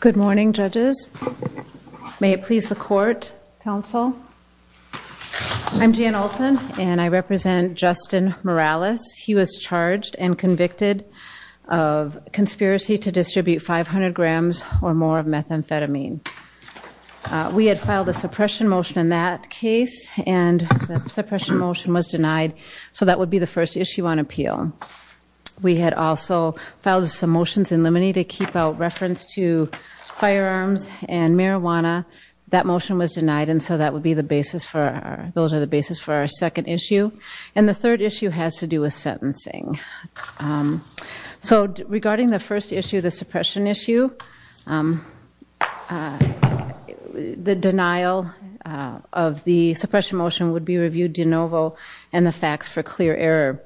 Good morning judges. May it please the court, counsel. I'm Jan Olson and I represent Justin Morales. He was charged and convicted of conspiracy to distribute 500 grams or more of methamphetamine. We had filed a suppression motion in that case and the suppression motion was denied so that would be the first issue on appeal. We had also filed some motions in limine to keep out reference to firearms and marijuana. That motion was denied and so that would be the basis for our second issue and the third issue has to do with sentencing. So regarding the first issue, the suppression issue, the denial of the suppression motion would be reviewed de novo and the facts for clear error.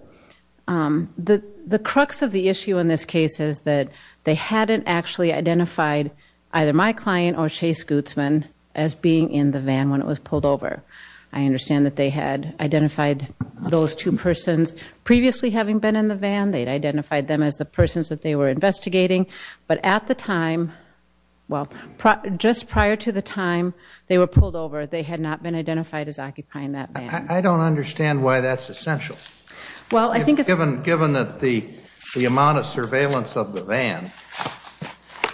The crux of the issue in this case is that they hadn't actually identified either my client or Chase Guzman as being in the van when it was pulled over. I understand that they had identified those two persons previously having been in the van, they'd identified them as the persons that they were investigating but at the time, well just prior to the time they were pulled over, they had not been identified as occupying that van. I don't understand why that's essential. Given that the amount of surveillance of the van,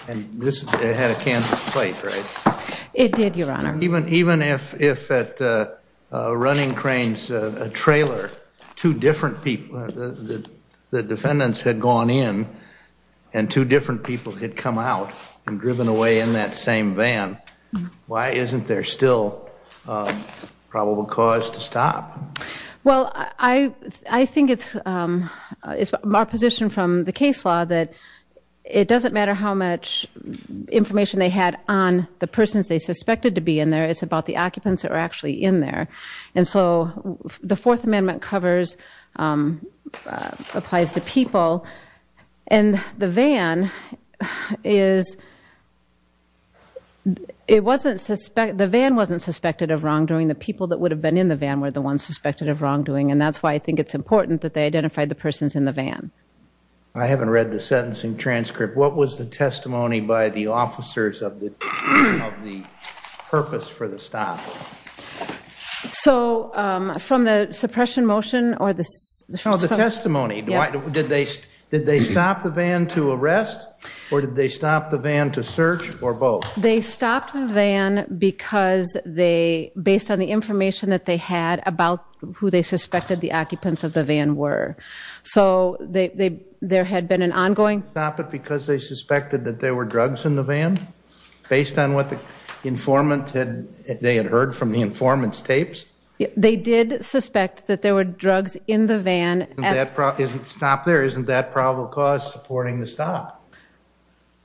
and this had a candidate plate, right? It did, your honor. Even if at running cranes, a trailer, two different people, the defendants had gone in and two different people had come out and driven away in that same van, why isn't there still probable cause to stop? Well, I think it's our position from the case law that it doesn't matter how much information they had on the persons they suspected to be in there, it's about the occupants that were actually in there. And so the Fourth Amendment covers, applies to people and the van is, it wasn't suspected, the van wasn't suspected of wrongdoing, the people that would have been in the van were the ones suspected of wrongdoing and that's why I think it's important that they identified the persons in the van. I haven't read the sentencing transcript. What was the testimony by the officers of the purpose for the stop? So from the suppression motion or the testimony, did they stop the van to arrest or did they stop the van to search or both? They stopped the van because they, based on the information that they had about who they suspected the occupants of the van were. So there had been an ongoing... Stop it because they suspected that there were drugs in the van based on what the informant had, they had heard from the informant's tapes. They did suspect that there were drugs in the van. Stop there, isn't that probable cause supporting the stop?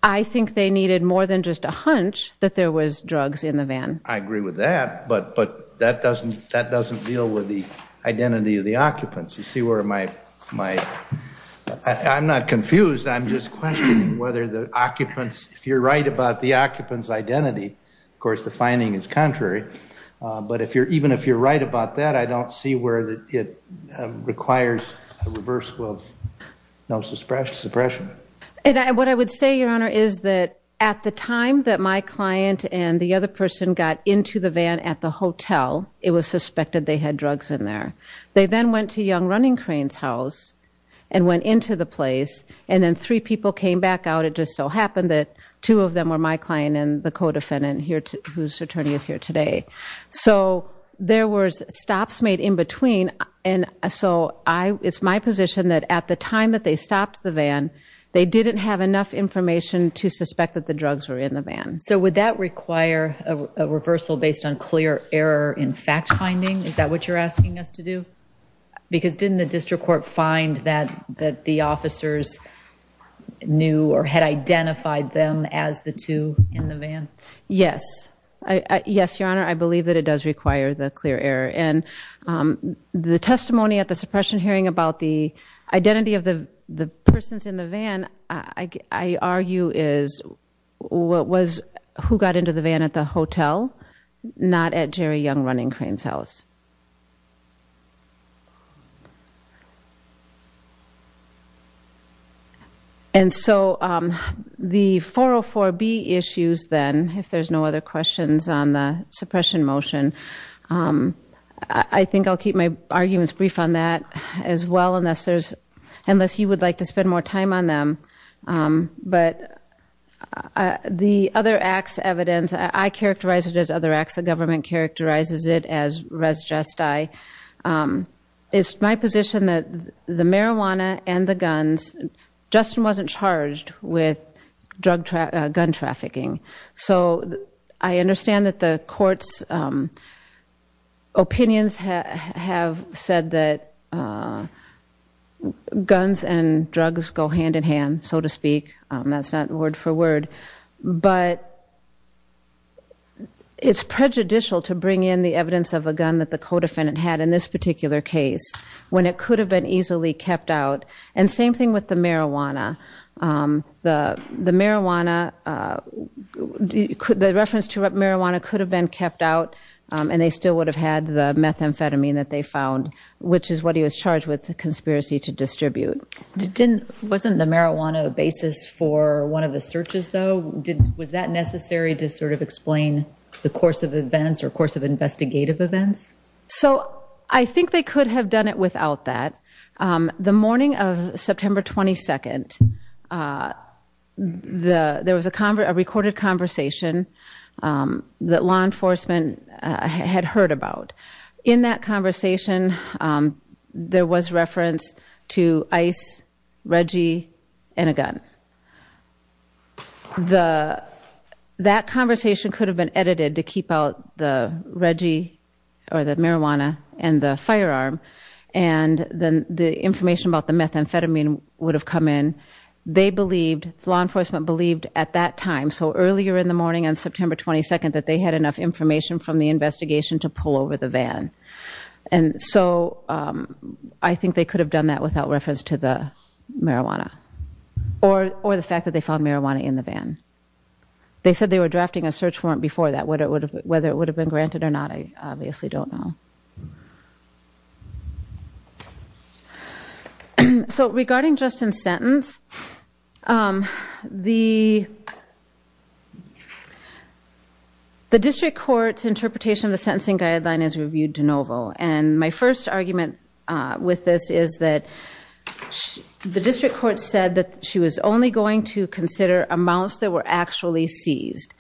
I think they needed more than just a hunch that there was drugs in the van. I agree with that, but that doesn't, that doesn't deal with the identity of the occupants. You see where my, I'm not confused, I'm just questioning whether the occupants, if you're right about the occupants identity, of course the finding is contrary. But if you're, even if you're right about that, I don't see where that it requires a reverse will of no suppression. And what I would say, Your Honor, is that at the time that my client and the other person got into the van at the hotel, it was suspected they had drugs in there. They then went to Young Running Crane's house and went into the place and then three people came back out. It just so happened that two of them were my client and the co-defendant whose attorney is here today. So there was stops made in between. And so I, it's my position that at the time that they stopped the van, they didn't have enough information to suspect that the drugs were in the van. So would that require a reversal based on clear error in fact finding? Is that what you're asking us to do? Because didn't the district court find that the officers knew or had identified them as the two in the van? Yes. Yes, Your Honor. I believe that it does require the clear error. And the testimony at the suppression hearing about the identity of the persons in the van, I argue is what was, who got into the van at the hotel, not at Jerry Young Running Crane's And so the 404B issues then, if there's no other questions on the suppression motion, I think I'll keep my arguments brief on that as well unless there's, unless you would like to spend more time on them. But the other acts evidence, I characterize it as other acts. The government characterizes it as res gesti. It's my position that the marijuana and the guns, Justin wasn't charged with drug trafficking, gun trafficking. So I understand that the courts opinions have said that guns and drugs go hand in hand, so to speak. That's not word for word. But it's prejudicial to bring in the evidence of a gun that the co-defendant had in this particular case when it could have been easily kept out. And same thing with the marijuana. The marijuana, the reference to marijuana could have been kept out and they still would have had the methamphetamine that they found, which is what he was charged with, a conspiracy to distribute. Wasn't the marijuana a basis for one of the investigative events? So I think they could have done it without that. The morning of September 22nd, there was a recorded conversation that law enforcement had heard about. In that conversation, there was reference to ICE, Reggie, and a gun. That conversation could have been edited to keep out the Reggie or the marijuana and the firearm. And then the information about the methamphetamine would have come in. They believed, law enforcement believed at that time, so earlier in the morning on September 22nd, that they had enough information from the investigation to pull over the van. And so I think they could have done that without reference to the marijuana or the fact that they found it. Whether it would have been granted or not, I obviously don't know. So regarding Justin's sentence, the district court's interpretation of the sentencing guideline is reviewed de novo. And my first argument with this is that the district court said that she was only going to consider amounts that were actually seized.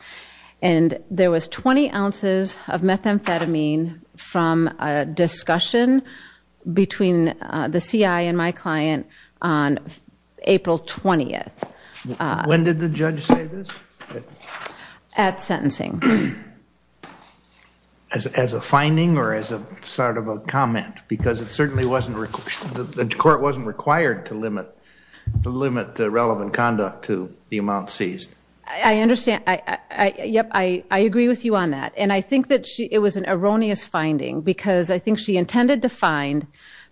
And there was 20 ounces of methamphetamine from a discussion between the CI and my client on April 20th. When did the judge say this? At sentencing. As a finding or as a sort of a comment? Because it certainly wasn't, the court wasn't required to limit the relevant conduct to the amount seized. I understand. I agree with you on that. And I think that it was an erroneous finding because I think she intended to find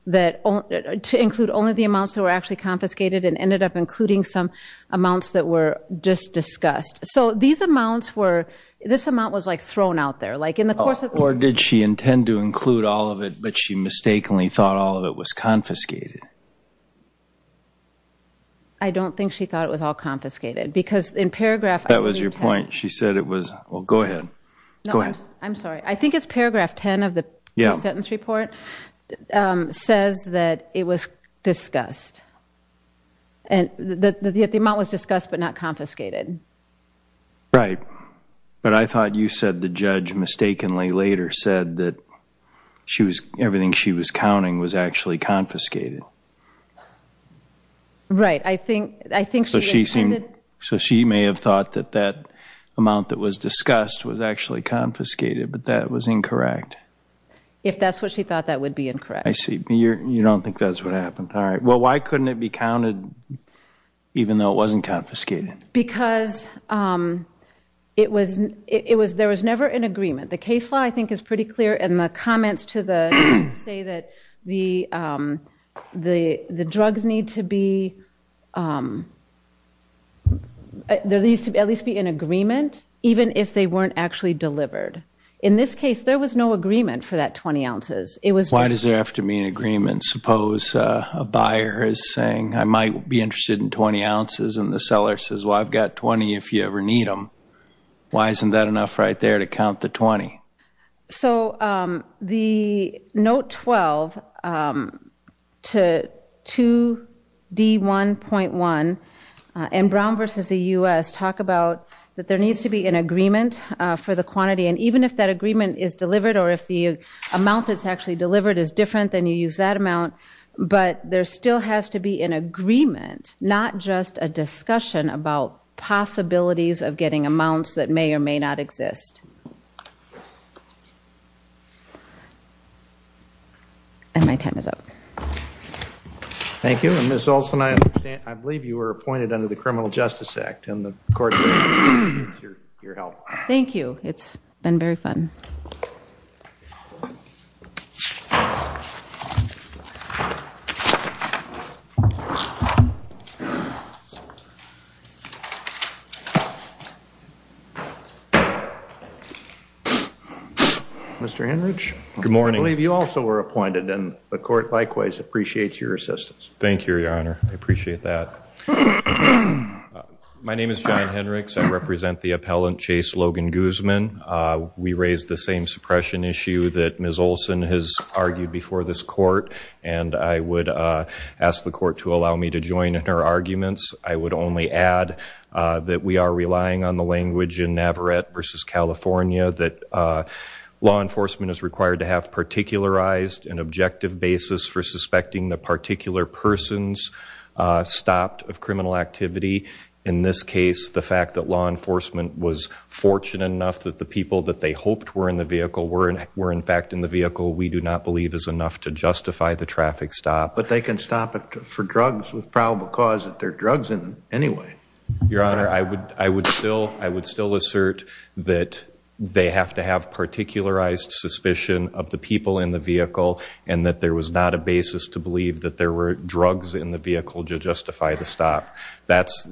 that, to include only the amounts that were actually confiscated and ended up including some amounts that were just discussed. So these amounts were, this amount was like thrown out there. Or did she intend to include all of it, but she mistakenly thought all of it was confiscated? I don't think she thought it was all confiscated. Because in paragraph... That was your point. She said it was, well, go ahead. I'm sorry. I think it's paragraph 10 of the sentence report says that it was discussed. And that the amount was discussed, but not confiscated. Right. But I thought you said the judge mistakenly later said that she was, everything she was confiscated. Right. I think, I think she intended... So she may have thought that that amount that was discussed was actually confiscated, but that was incorrect. If that's what she thought, that would be incorrect. I see. You don't think that's what happened. All right. Well, why couldn't it be counted even though it wasn't confiscated? Because it was, it was, there was never an agreement. The case law I think is pretty clear in the comments to the, say that the, the drugs need to be, there needs to at least be an agreement, even if they weren't actually delivered. In this case, there was no agreement for that 20 ounces. It was... Why does there have to be an agreement? Suppose a buyer is saying, I might be interested in 20 ounces and the seller says, well, I've got 20 if you ever need them. Why isn't that enough right there to count the 20? So the Note 12 to 2D1.1 and Brown versus the U.S. talk about that there needs to be an agreement for the quantity. And even if that agreement is delivered or if the amount that's actually delivered is different than you use that amount, but there still has to be an agreement, not just a discussion about possibilities of getting amounts that may or may not exist. And my time is up. Thank you. And Ms. Olson, I understand, I believe you were appointed under the Criminal Justice Act and the court needs your help. Thank you. It's been very fun. Mr. Henrich. Good morning. I believe you also were appointed and the court likewise appreciates your assistance. Thank you, Your Honor. I appreciate that. My name is John Henrichs. I represent the appellant, Chase Logan Guzman. We raised the same suppression issue that Ms. Olson has argued before this court. And I would ask the court to allow me to join in her arguments. I would only add that we are relying on the language in Navarrete versus California that law enforcement is required to have particularized an objective basis for suspecting the particular persons stopped of criminal activity. In this case, the fact that law enforcement was fortunate enough that the people that they hoped were in the vehicle were in fact in the vehicle, we do not believe is enough to justify the traffic stop. But they can stop it for drugs with probable cause that they're drugs anyway. Your Honor, I would still assert that they have to have particularized suspicion of the people in the vehicle and that there was not a basis to believe that there were drugs in the vehicle to justify the stop. That's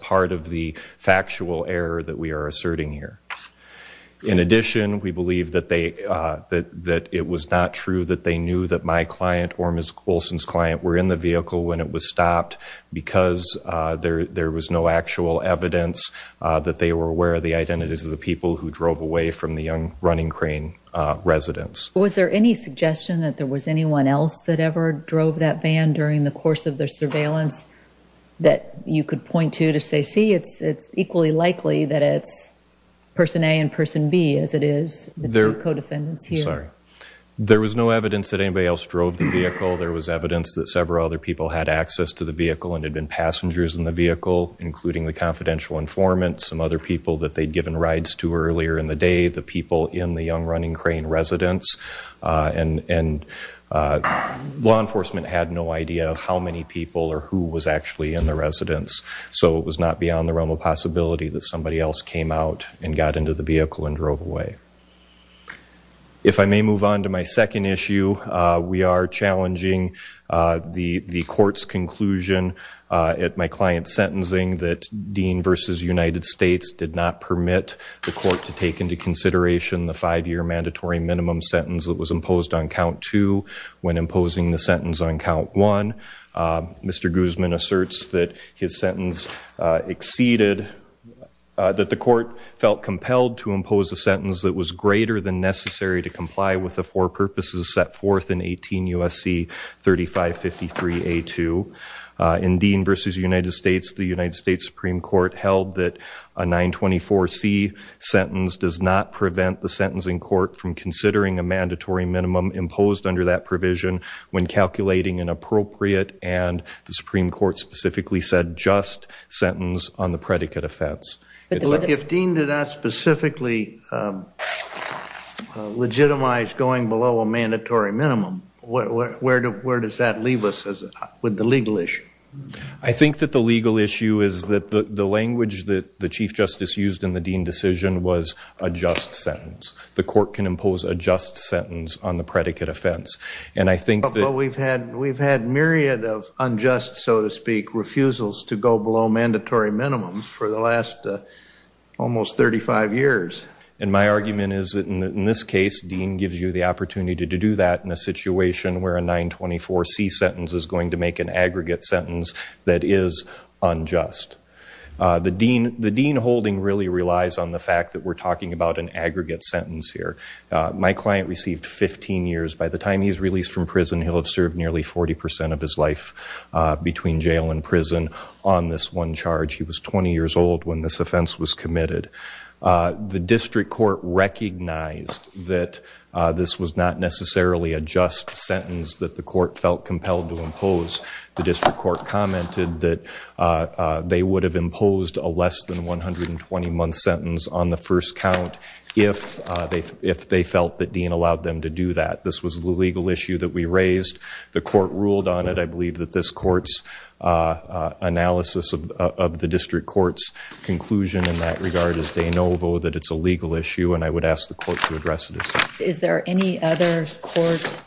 part of the factual error that we are asserting here. In addition, we believe that it was not true that they knew that my client or Ms. Olson's client were in the vehicle when it was stopped because there was no actual evidence that they were aware of the identities of the people who drove away from the Young Running Crane residence. Was there any suggestion that there was anyone else that ever drove that van during the course of their surveillance that you could point to to say, see, it's equally likely that it's person A and person B as it is the two co-defendants here? There was no evidence that anybody else drove the vehicle. There was evidence that several other people had access to the vehicle and had been passengers in the vehicle, including the confidential informant, some other people that they'd given rides to earlier in the residence. Law enforcement had no idea how many people or who was actually in the residence, so it was not beyond the realm of possibility that somebody else came out and got into the vehicle and drove away. If I may move on to my second issue, we are challenging the court's conclusion at my client's sentencing that Dean v. United States did not permit the court to take into consideration the five-year mandatory minimum sentence that was imposed on count two when imposing the sentence on count one. Mr. Guzman asserts that his sentence exceeded, that the court felt compelled to impose a sentence that was greater than necessary to comply with the four purposes set forth in 18 U.S.C. 3553A2. In Dean v. United States, the United States sentencing court from considering a mandatory minimum imposed under that provision when calculating an appropriate and, the Supreme Court specifically said, just sentence on the predicate offense. Look, if Dean did not specifically legitimize going below a mandatory minimum, where does that leave us with the legal issue? I think that the legal issue is that the language that the Chief Justice used in the Dean decision was a just sentence. The court can impose a just sentence on the predicate offense. And I think that- But we've had myriad of unjust, so to speak, refusals to go below mandatory minimums for the last almost 35 years. And my argument is that in this case, Dean gives you the opportunity to do that in a situation where a 924C sentence is going to make an aggregate sentence that is unjust. The Dean holding really relies on the fact that we're talking about an aggregate sentence here. My client received 15 years. By the time he's released from prison, he'll have served nearly 40 percent of his life between jail and prison on this one charge. He was 20 years old when this offense was committed. The district court recognized that this was not necessarily a just sentence that the court felt compelled to impose. The district court commented that they would have imposed a less than 120-month sentence on the first count if they felt that Dean allowed them to do that. This was the legal issue that we raised. The court ruled on it. I believe that this court's analysis of the district court's conclusion in that regard is de novo, that it's a legal issue, and I would ask the court to address it as such. Is there any other court,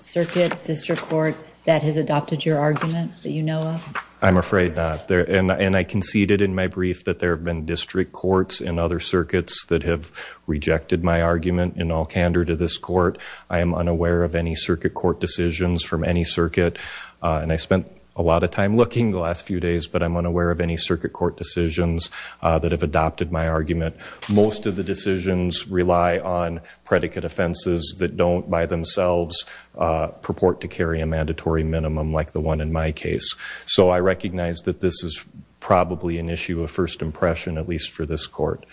circuit, district court, that has adopted your argument that you know of? I'm afraid not. And I conceded in my brief that there have been district courts and other circuits that have rejected my argument in all candor to this court. I am unaware of any circuit court decisions from any circuit, and I spent a lot of time looking the last few days, but I'm unaware of any circuit court decisions that have adopted my argument. Most of the decisions rely on predicate offenses that don't by themselves purport to carry a mandatory minimum like the one in my case. So I recognize that this is probably an issue of first impression, at least for this court.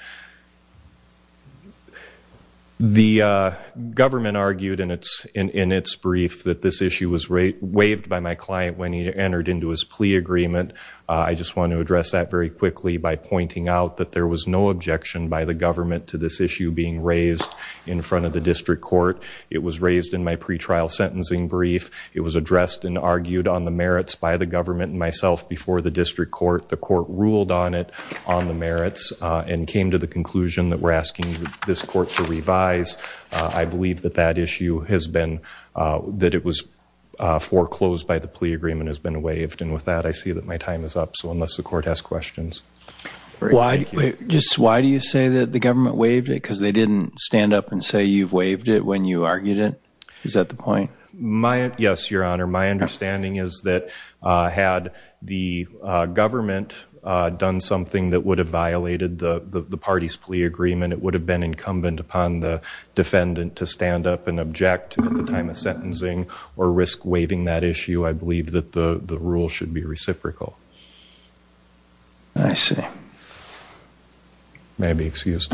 The government argued in its brief that this issue was waived by my client when he entered into his plea agreement. I just want to address that very quickly by pointing out that there was no objection by the government to this issue being raised in front of the district court. It was raised in my pre-trial sentencing brief. It was addressed and argued on the merits by the government and myself before the district court. The court ruled on it on the merits and came to the conclusion that we're asking this court to revise. I believe that that issue has been, that it was foreclosed by the plea agreement has been waived. And with that, I see that my time is up. So unless the court has questions. Why do you say that the government waived it? Because they didn't stand up and say you've waived it when you argued it? Is that the point? My, yes, your honor. My understanding is that had the government done something that would have violated the party's plea agreement, it would have been incumbent upon the defendant to stand up and object at the time of sentencing or risk waiving that issue. I believe that the rule should be reciprocal. I see. May I be excused?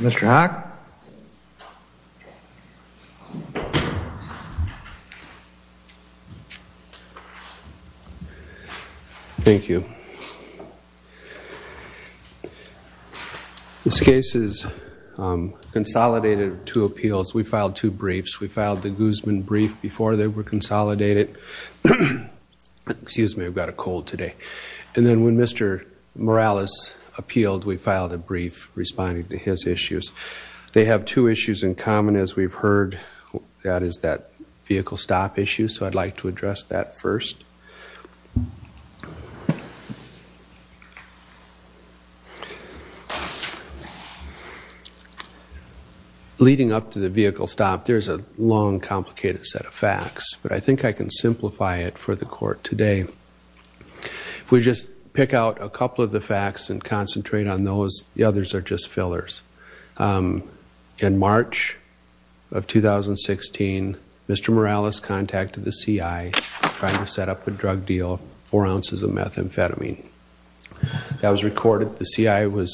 Mr. Hock? Thank you. This case is consolidated to appeals. We filed two briefs. We filed the Guzman brief before they were consolidated. Excuse me, I've got a cold today. And then when Mr. Morales appealed, we filed a brief responding to his issues. They have two issues in common as we've heard. That is that vehicle stop issue. So I'd like to address that first. Okay. Leading up to the vehicle stop, there's a long, complicated set of facts. But I think I can simplify it for the court today. If we just pick out a couple of the facts and concentrate on those, the others are just fillers. In March of 2016, Mr. Morales contacted the CI trying to set up a drug deal, four ounces of methamphetamine. That was recorded. The CI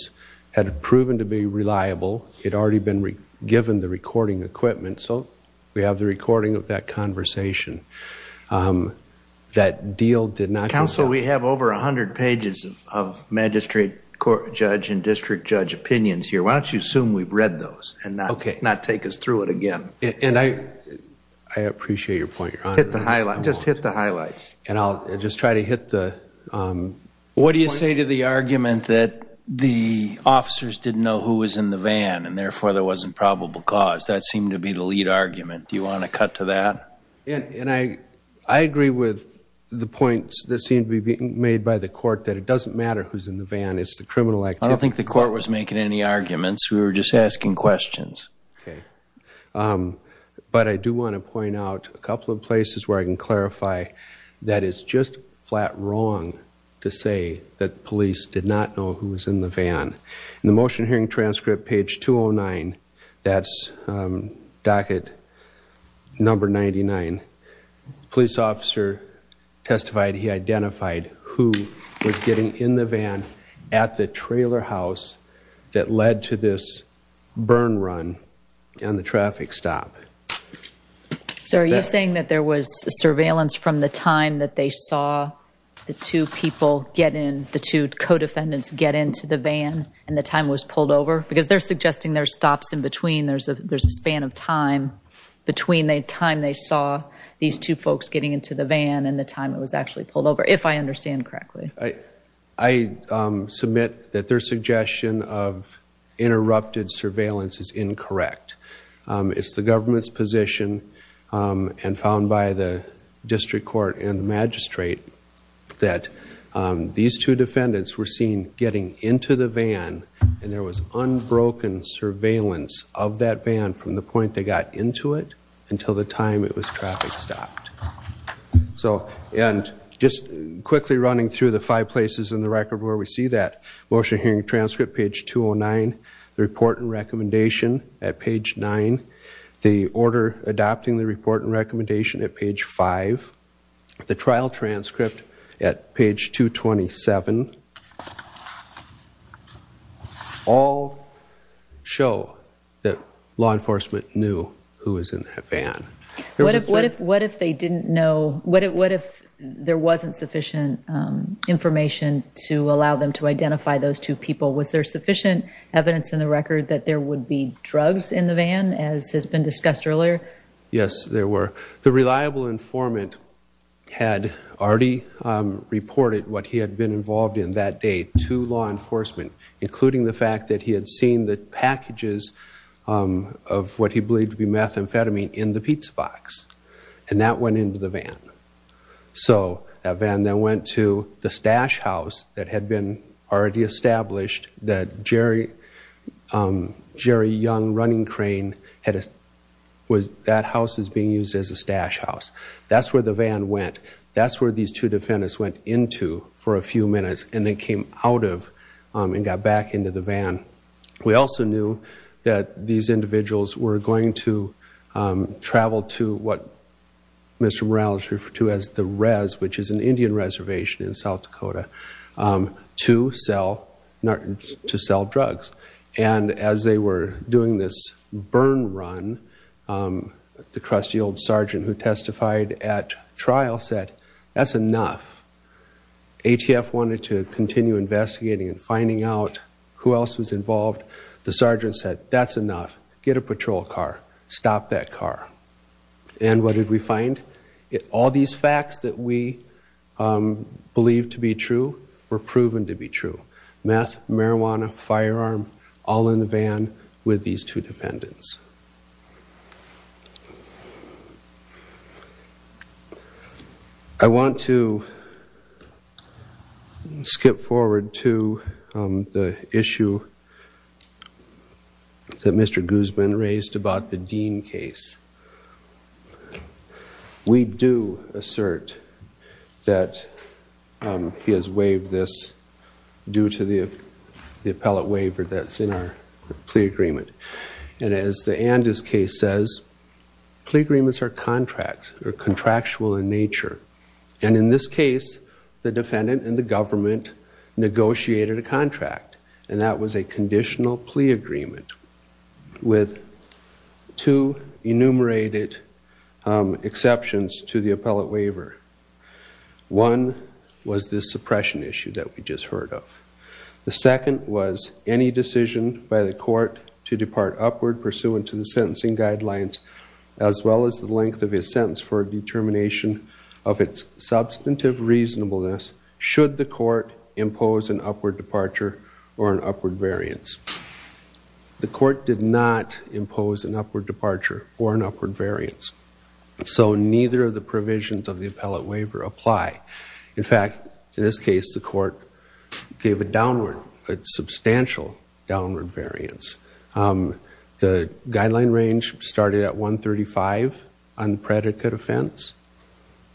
had proven to be reliable. It had already been given the recording equipment. So we have the recording of that conversation. That deal did not... Counsel, we have over 100 pages of magistrate court judge and district judge opinions here. Why don't you assume we've read those and not take us through it again? I appreciate your point, Your Honor. Just hit the highlights. I'll just try to hit the... What do you say to the argument that the officers didn't know who was in the van and therefore there wasn't probable cause? That seemed to be the lead argument. Do you want to cut to that? I agree with the points that seem to be made by the court that it doesn't matter who's in the van. It's the criminal activity. I don't think the court was making any arguments. We were just asking questions. Okay. But I do want to point out a couple of places where I can clarify that it's just flat wrong to say that police did not know who was in the van. In the motion hearing transcript, page 209, that's docket number 99, police officer testified he identified who was getting in the van at the trailer house that led to this burn run and the traffic stop. So are you saying that there was surveillance from the time that they saw the two people get in, the two co-defendants get into the van and the time was pulled over? Because they're suggesting there's stops in between, there's a span of time between the time they saw these two folks getting into the van and the time it was actually pulled over, if I understand correctly. I submit that their suggestion of interrupted surveillance is incorrect. It's the government's position and found by the district court and the magistrate that these two defendants were seen getting into the van and there was unbroken surveillance of that van from the point they got into it until the time it was traffic stopped. So, and just quickly running through the five places in the record where we see that motion hearing transcript, page 209, the report and recommendation at page 9, the order adopting the report and recommendation at page 5, the trial transcript at page 227, all show that law enforcement knew who was in that van. What if they didn't know, what if there wasn't sufficient information to allow them to identify those two people? Was there sufficient evidence in the record that there would be drugs in the van as has been discussed earlier? Yes, there were. The reliable informant had already reported what he had been involved in that day to law enforcement including the fact that he had seen the packages of what he believed to be methamphetamine in the pizza box and that went into the van. So, that van then went to the stash house that had been already established that Jerry Young running crane, that house is being used as a stash house. That's where the van went. That's where these two defendants went into for a few minutes and then came out of and got back into the van. We also knew that these individuals were going to travel to what Mr. Morales referred to which is an Indian reservation in South Dakota to sell drugs. And as they were doing this burn run, the crusty old sergeant who testified at trial said, that's enough. ATF wanted to continue investigating and finding out who else was involved. The sergeant said, that's enough. Get a patrol car. Stop that car. And what did we find? All these facts that we believed to be true were proven to be true. Meth, marijuana, firearm, all in the van with these two defendants. I want to skip forward to the issue that Mr. Guzman raised about the Dean case. We do assert that he has waived this due to the appellate waiver that's in our plea agreement. And as the Andis case says, plea agreements are contracts. They're contractual in nature. And in this case, the defendant and the government negotiated a contract. And that was a conditional plea agreement with two enumerated exceptions to the appellate waiver. One was this suppression issue that we just heard of. The second was any decision by the court to depart upward pursuant to the sentencing guidelines, as well as the length of his sentence for determination of its substantive reasonableness, should the court impose an upward departure or an upward variance. The court did not impose an upward departure or an upward variance. So neither of the provisions of the appellate waiver apply. In fact, in this case, the court gave a downward, a substantial downward variance. The guideline range started at 135 on predicate offense.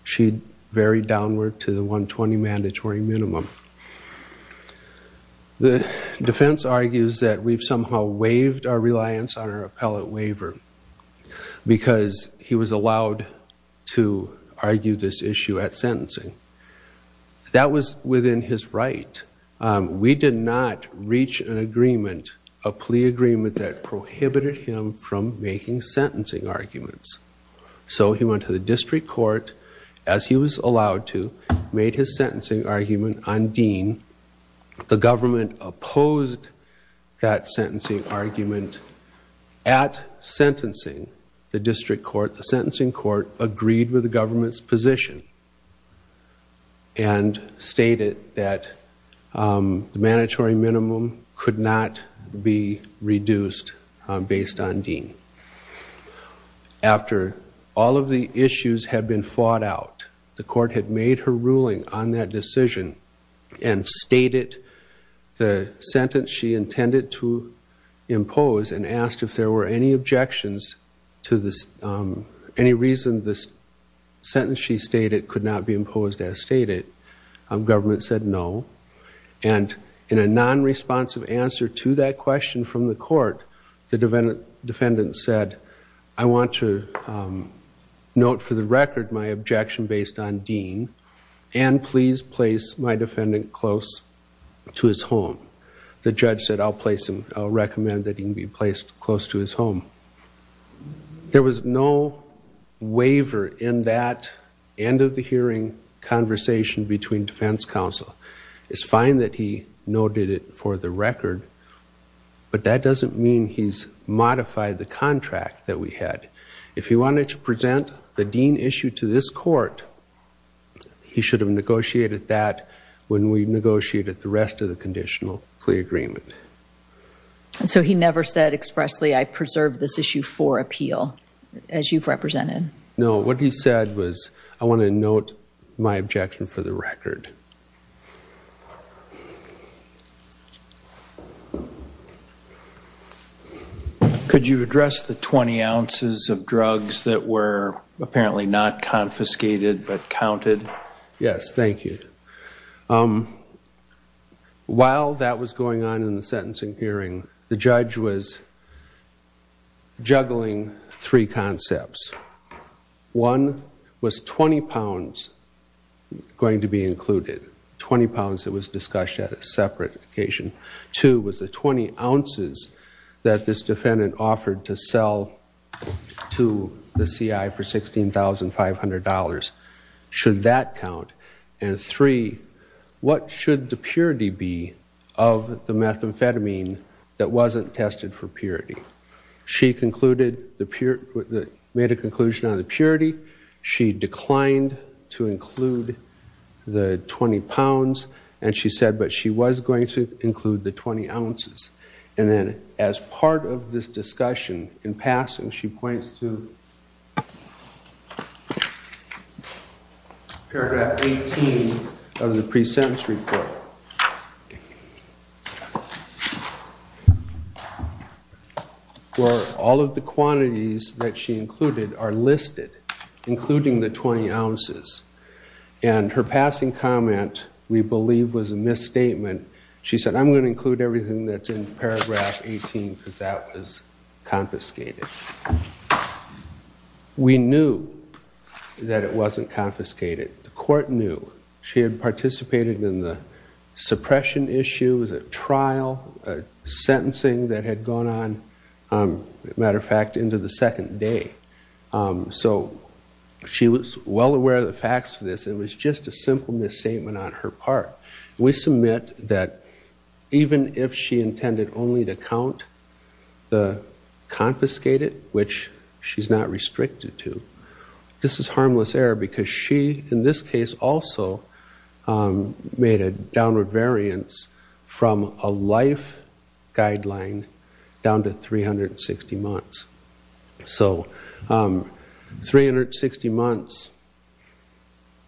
She varied downward to the 120 mandatory minimum. The defense argues that we've somehow waived our reliance on our appellate waiver because he was allowed to argue this issue at sentencing. That was within his right. We did not reach an agreement, a plea agreement, that prohibited him from making sentencing arguments. So he went to the district court, as he was allowed to, made his sentencing argument on Dean. The government opposed that sentencing argument at sentencing. The district court, the sentencing court, agreed with the government's position and stated that the mandatory minimum could not be reduced based on Dean. After all of the issues had been fought out, the court had made her ruling on that decision and stated the sentence she intended to impose and asked if there were any objections to this, any reason this sentence she stated could not be imposed as stated. Government said no. And in a non-responsive answer to that question from the court, the defendant said, I want to note for the record my objection based on Dean and please place my defendant close to his home. The judge said, I'll place him, I'll recommend that he be placed close to his home. There was no waiver in that end of the hearing conversation between defense counsel. It's fine that he noted it for the record, but that doesn't mean he's modified the contract that we had. If he wanted to present the Dean issue to this court, he should have negotiated that when we negotiated the rest of the conditional plea agreement. So he never said expressly, I preserve this issue for appeal, as you've represented? No, what he said was, I want to note my objection for the record. Could you address the 20 ounces of drugs that were apparently not confiscated but counted? Yes, thank you. While that was going on in the sentencing hearing, the judge was juggling three concepts. One was 20 pounds going to be included, 20 pounds that was discussed at a separate occasion. Two was the 20 ounces that this defendant offered to sell to the CI for $16,500. Should that count? And three, what should the purity be of the methamphetamine that wasn't tested for purity? She made a conclusion on the purity. She declined to include the 20 pounds. And she said, but she was going to include the 20 ounces. And then as part of this discussion, in passing, she points to paragraph 18 of the pre-sentence report. Where all of the quantities that she included are listed, including the 20 ounces. And her passing comment, we believe, was a misstatement. She said, I'm going to include everything that's in paragraph 18 because that was confiscated. We knew that it wasn't confiscated. The court knew. She had participated in the suppression issues, a trial, a sentencing that had gone on, as a matter of fact, into the second day. So she was well aware of the facts of this. It was just a simple misstatement on her part. We submit that even if she intended only to count the confiscated, which she's not restricted to, this is harmless error because she, in this case, also made a downward variance from a life guideline down to 360 months. So 360 months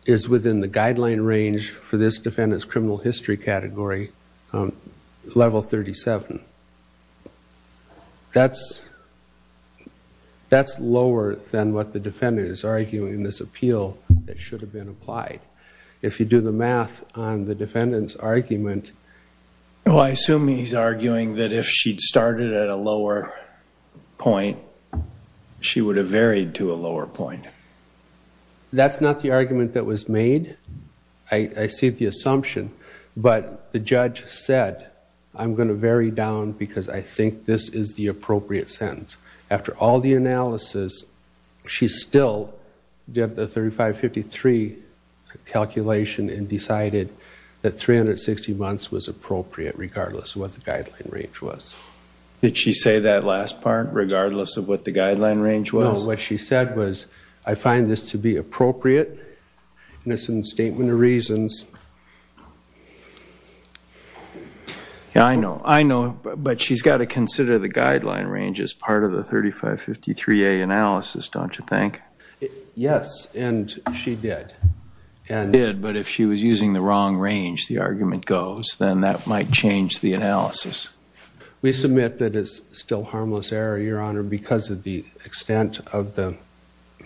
is within the guideline range for this defendant's criminal history category, level 37. That's lower than what the defendant is arguing in this appeal that should have been applied. If you do the math on the defendant's argument... If she'd started at a lower point, she would have varied to a lower point. That's not the argument that was made. I see the assumption. But the judge said, I'm going to vary down because I think this is the appropriate sentence. After all the analysis, she still did the 3553 calculation and decided that 360 months was appropriate, regardless of what the guideline range was. Did she say that last part, regardless of what the guideline range was? No. What she said was, I find this to be appropriate, and it's in the Statement of Reasons. Yeah, I know. I know. But she's got to consider the guideline range as part of the 3553A analysis, don't you think? Yes, and she did. She did, but if she was using the wrong range, the argument goes, then that might change the analysis. We submit that it's still harmless error, Your Honor, because of the extent of the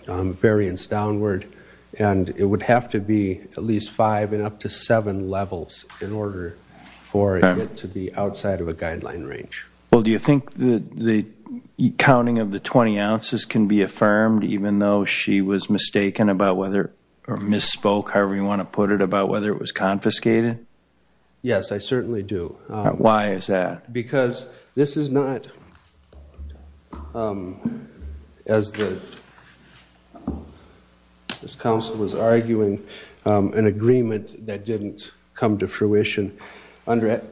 variance downward. And it would have to be at least five and up to seven levels in order for it to be outside of a guideline range. Well, do you think the counting of the 20 ounces can be affirmed, even though she was mistaken about whether or misspoke, however you want to put it, about whether it was confiscated? Yes, I certainly do. Why is that? Because this is not, as this counsel was arguing, an agreement that didn't come to fruition. Under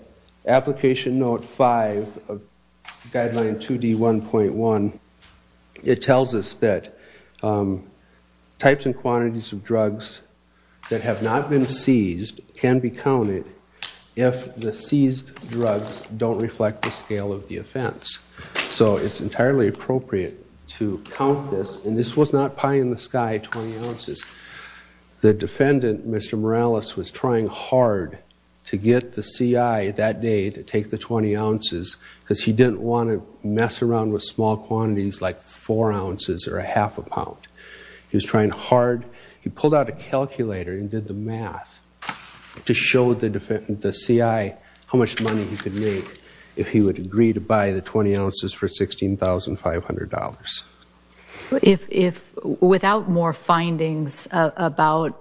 Application Note 5 of Guideline 2D1.1, it tells us that types and quantities of drugs that have not been seized can be counted if the seized drugs don't reflect the scale of the offense. So it's entirely appropriate to count this, and this was not pie in the sky, 20 ounces. The defendant, Mr. Morales, was trying hard to get the CI that day to take the 20 ounces because he didn't want to mess around with small quantities like four ounces or a half a pound. He was trying hard. He pulled out a calculator and did the math to show the CI how much money he could make if he would agree to buy the 20 ounces for $16,500. Without more findings about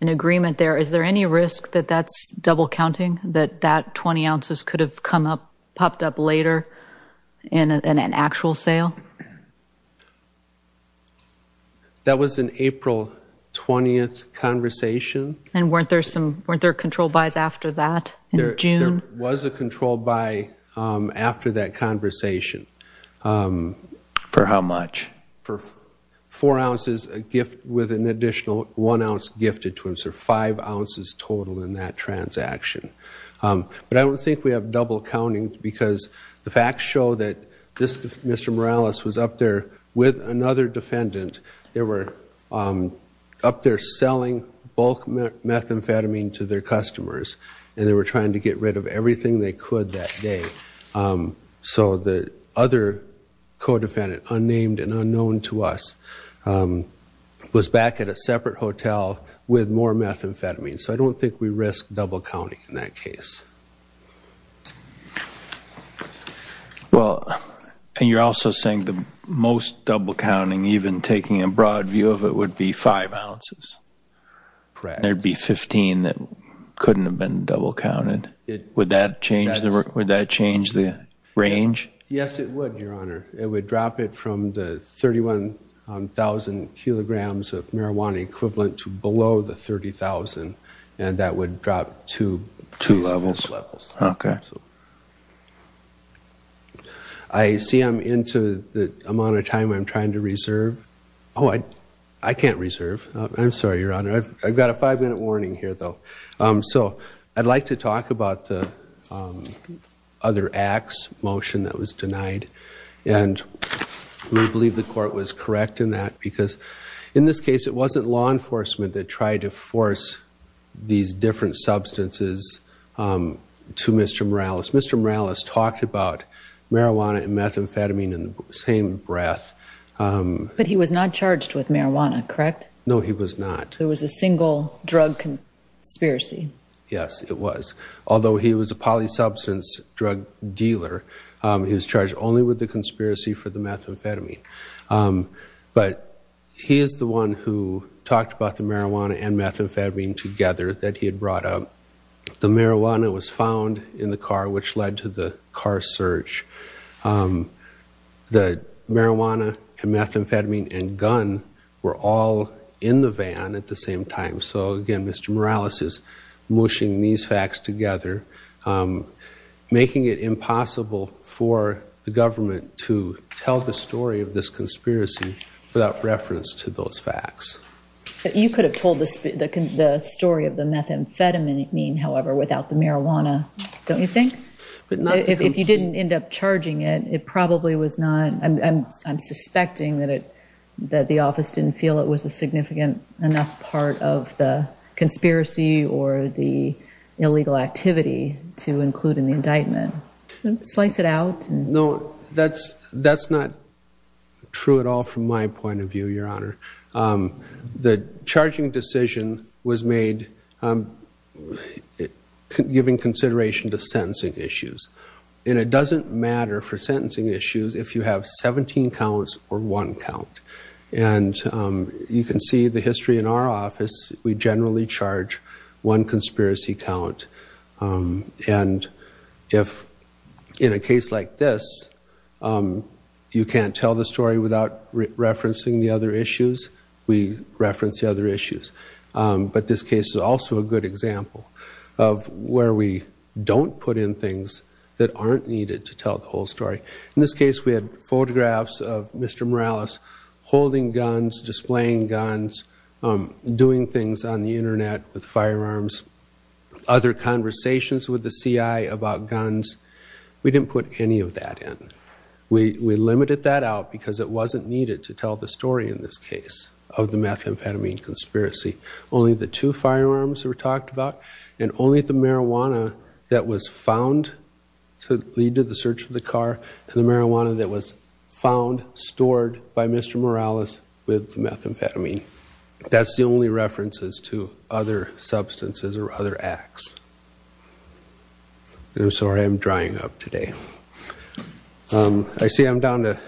an agreement there, is there any risk that that's double counting? That that 20 ounces could have popped up later in an actual sale? That was an April 20th conversation. And weren't there control buys after that in June? There was a control buy after that conversation. For how much? For four ounces with an additional one ounce gifted to him, so five ounces total in that transaction. But I don't think we have double counting because the facts show that Mr. Morales was up there with another defendant. They were up there selling bulk methamphetamine to their customers and they were trying to get rid of everything they could that day. So the other co-defendant, unnamed and unknown to us, was back at a separate hotel with more methamphetamine. So I don't think we risk double counting in that case. Well, and you're also saying the most double counting, even taking a broad view of it, would be five ounces? Correct. There'd be 15 that couldn't have been double counted. Would that change the range? Yes, it would, Your Honor. It would drop it from the 31,000 kilograms of marijuana equivalent to below the 30,000. And that would drop to two levels. Okay. I see I'm into the amount of time I'm trying to reserve. Oh, I can't reserve. I'm sorry, Your Honor. I've got a five-minute warning here, though. So I'd like to talk about the other acts motion that was denied. And we believe the court was correct in that because, in this case, it wasn't law enforcement that tried to force these different substances to Mr. Morales. Mr. Morales talked about marijuana and methamphetamine in the same breath. But he was not charged with marijuana, correct? No, he was not. There was a single drug conspiracy. Yes, it was. Although he was a polysubstance drug dealer, he was charged only with the conspiracy for the methamphetamine. But he is the one who talked about the marijuana and methamphetamine together that he had brought up. The marijuana was found in the car, which led to the car search. The marijuana and methamphetamine and gun were all in the van at the same time. So, again, Mr. Morales is mushing these facts together, making it impossible for the government to tell the story of this conspiracy without reference to those facts. You could have told the story of the methamphetamine, however, without the marijuana, don't you think? If you didn't end up charging it, it probably was not. I'm suspecting that the office didn't feel it was a significant enough part of the conspiracy or the illegal activity to include in the indictment. Slice it out. No, that's not true at all from my point of view, Your Honor. The charging decision was made giving consideration to sentencing issues. And it doesn't matter for sentencing issues if you have 17 counts or one count. And you can see the history in our office. We generally charge one conspiracy count. And if in a case like this, you can't tell the story without referencing the other issues, we reference the other issues. But this case is also a good example of where we don't put in things that aren't needed to tell the whole story. In this case, we had photographs of Mr. Morales holding guns, displaying guns, doing things on the Internet with firearms, other conversations with the CI about guns. We didn't put any of that in. We limited that out because it wasn't needed to tell the story in this case of the methamphetamine conspiracy. Only the two firearms were talked about and only the marijuana that was found to lead to the search of the car and the marijuana that was found, stored by Mr. Morales with methamphetamine. That's the only references to other substances or other acts. I'm sorry, I'm drying up today. I see I'm down to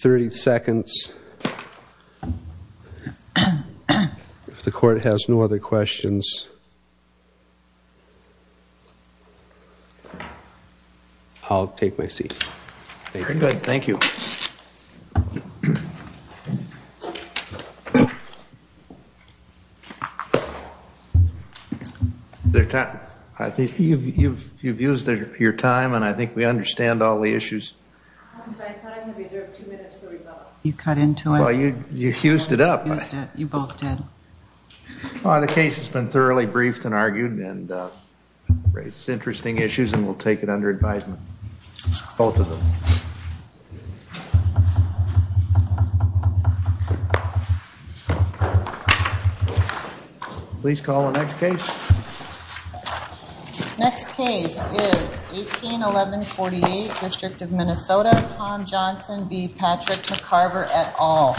30 seconds. If the court has no other questions, I'll take my seat. Very good, thank you. You've used your time and I think we understand all the issues. You cut into it. You fused it up. You both did. The case has been thoroughly briefed and argued and raised interesting issues and we'll take it under advisement. Both of them. Please call the next case. Next case is 18-11-48, District of Minnesota. Tom Johnson v. Patrick McCarver et al.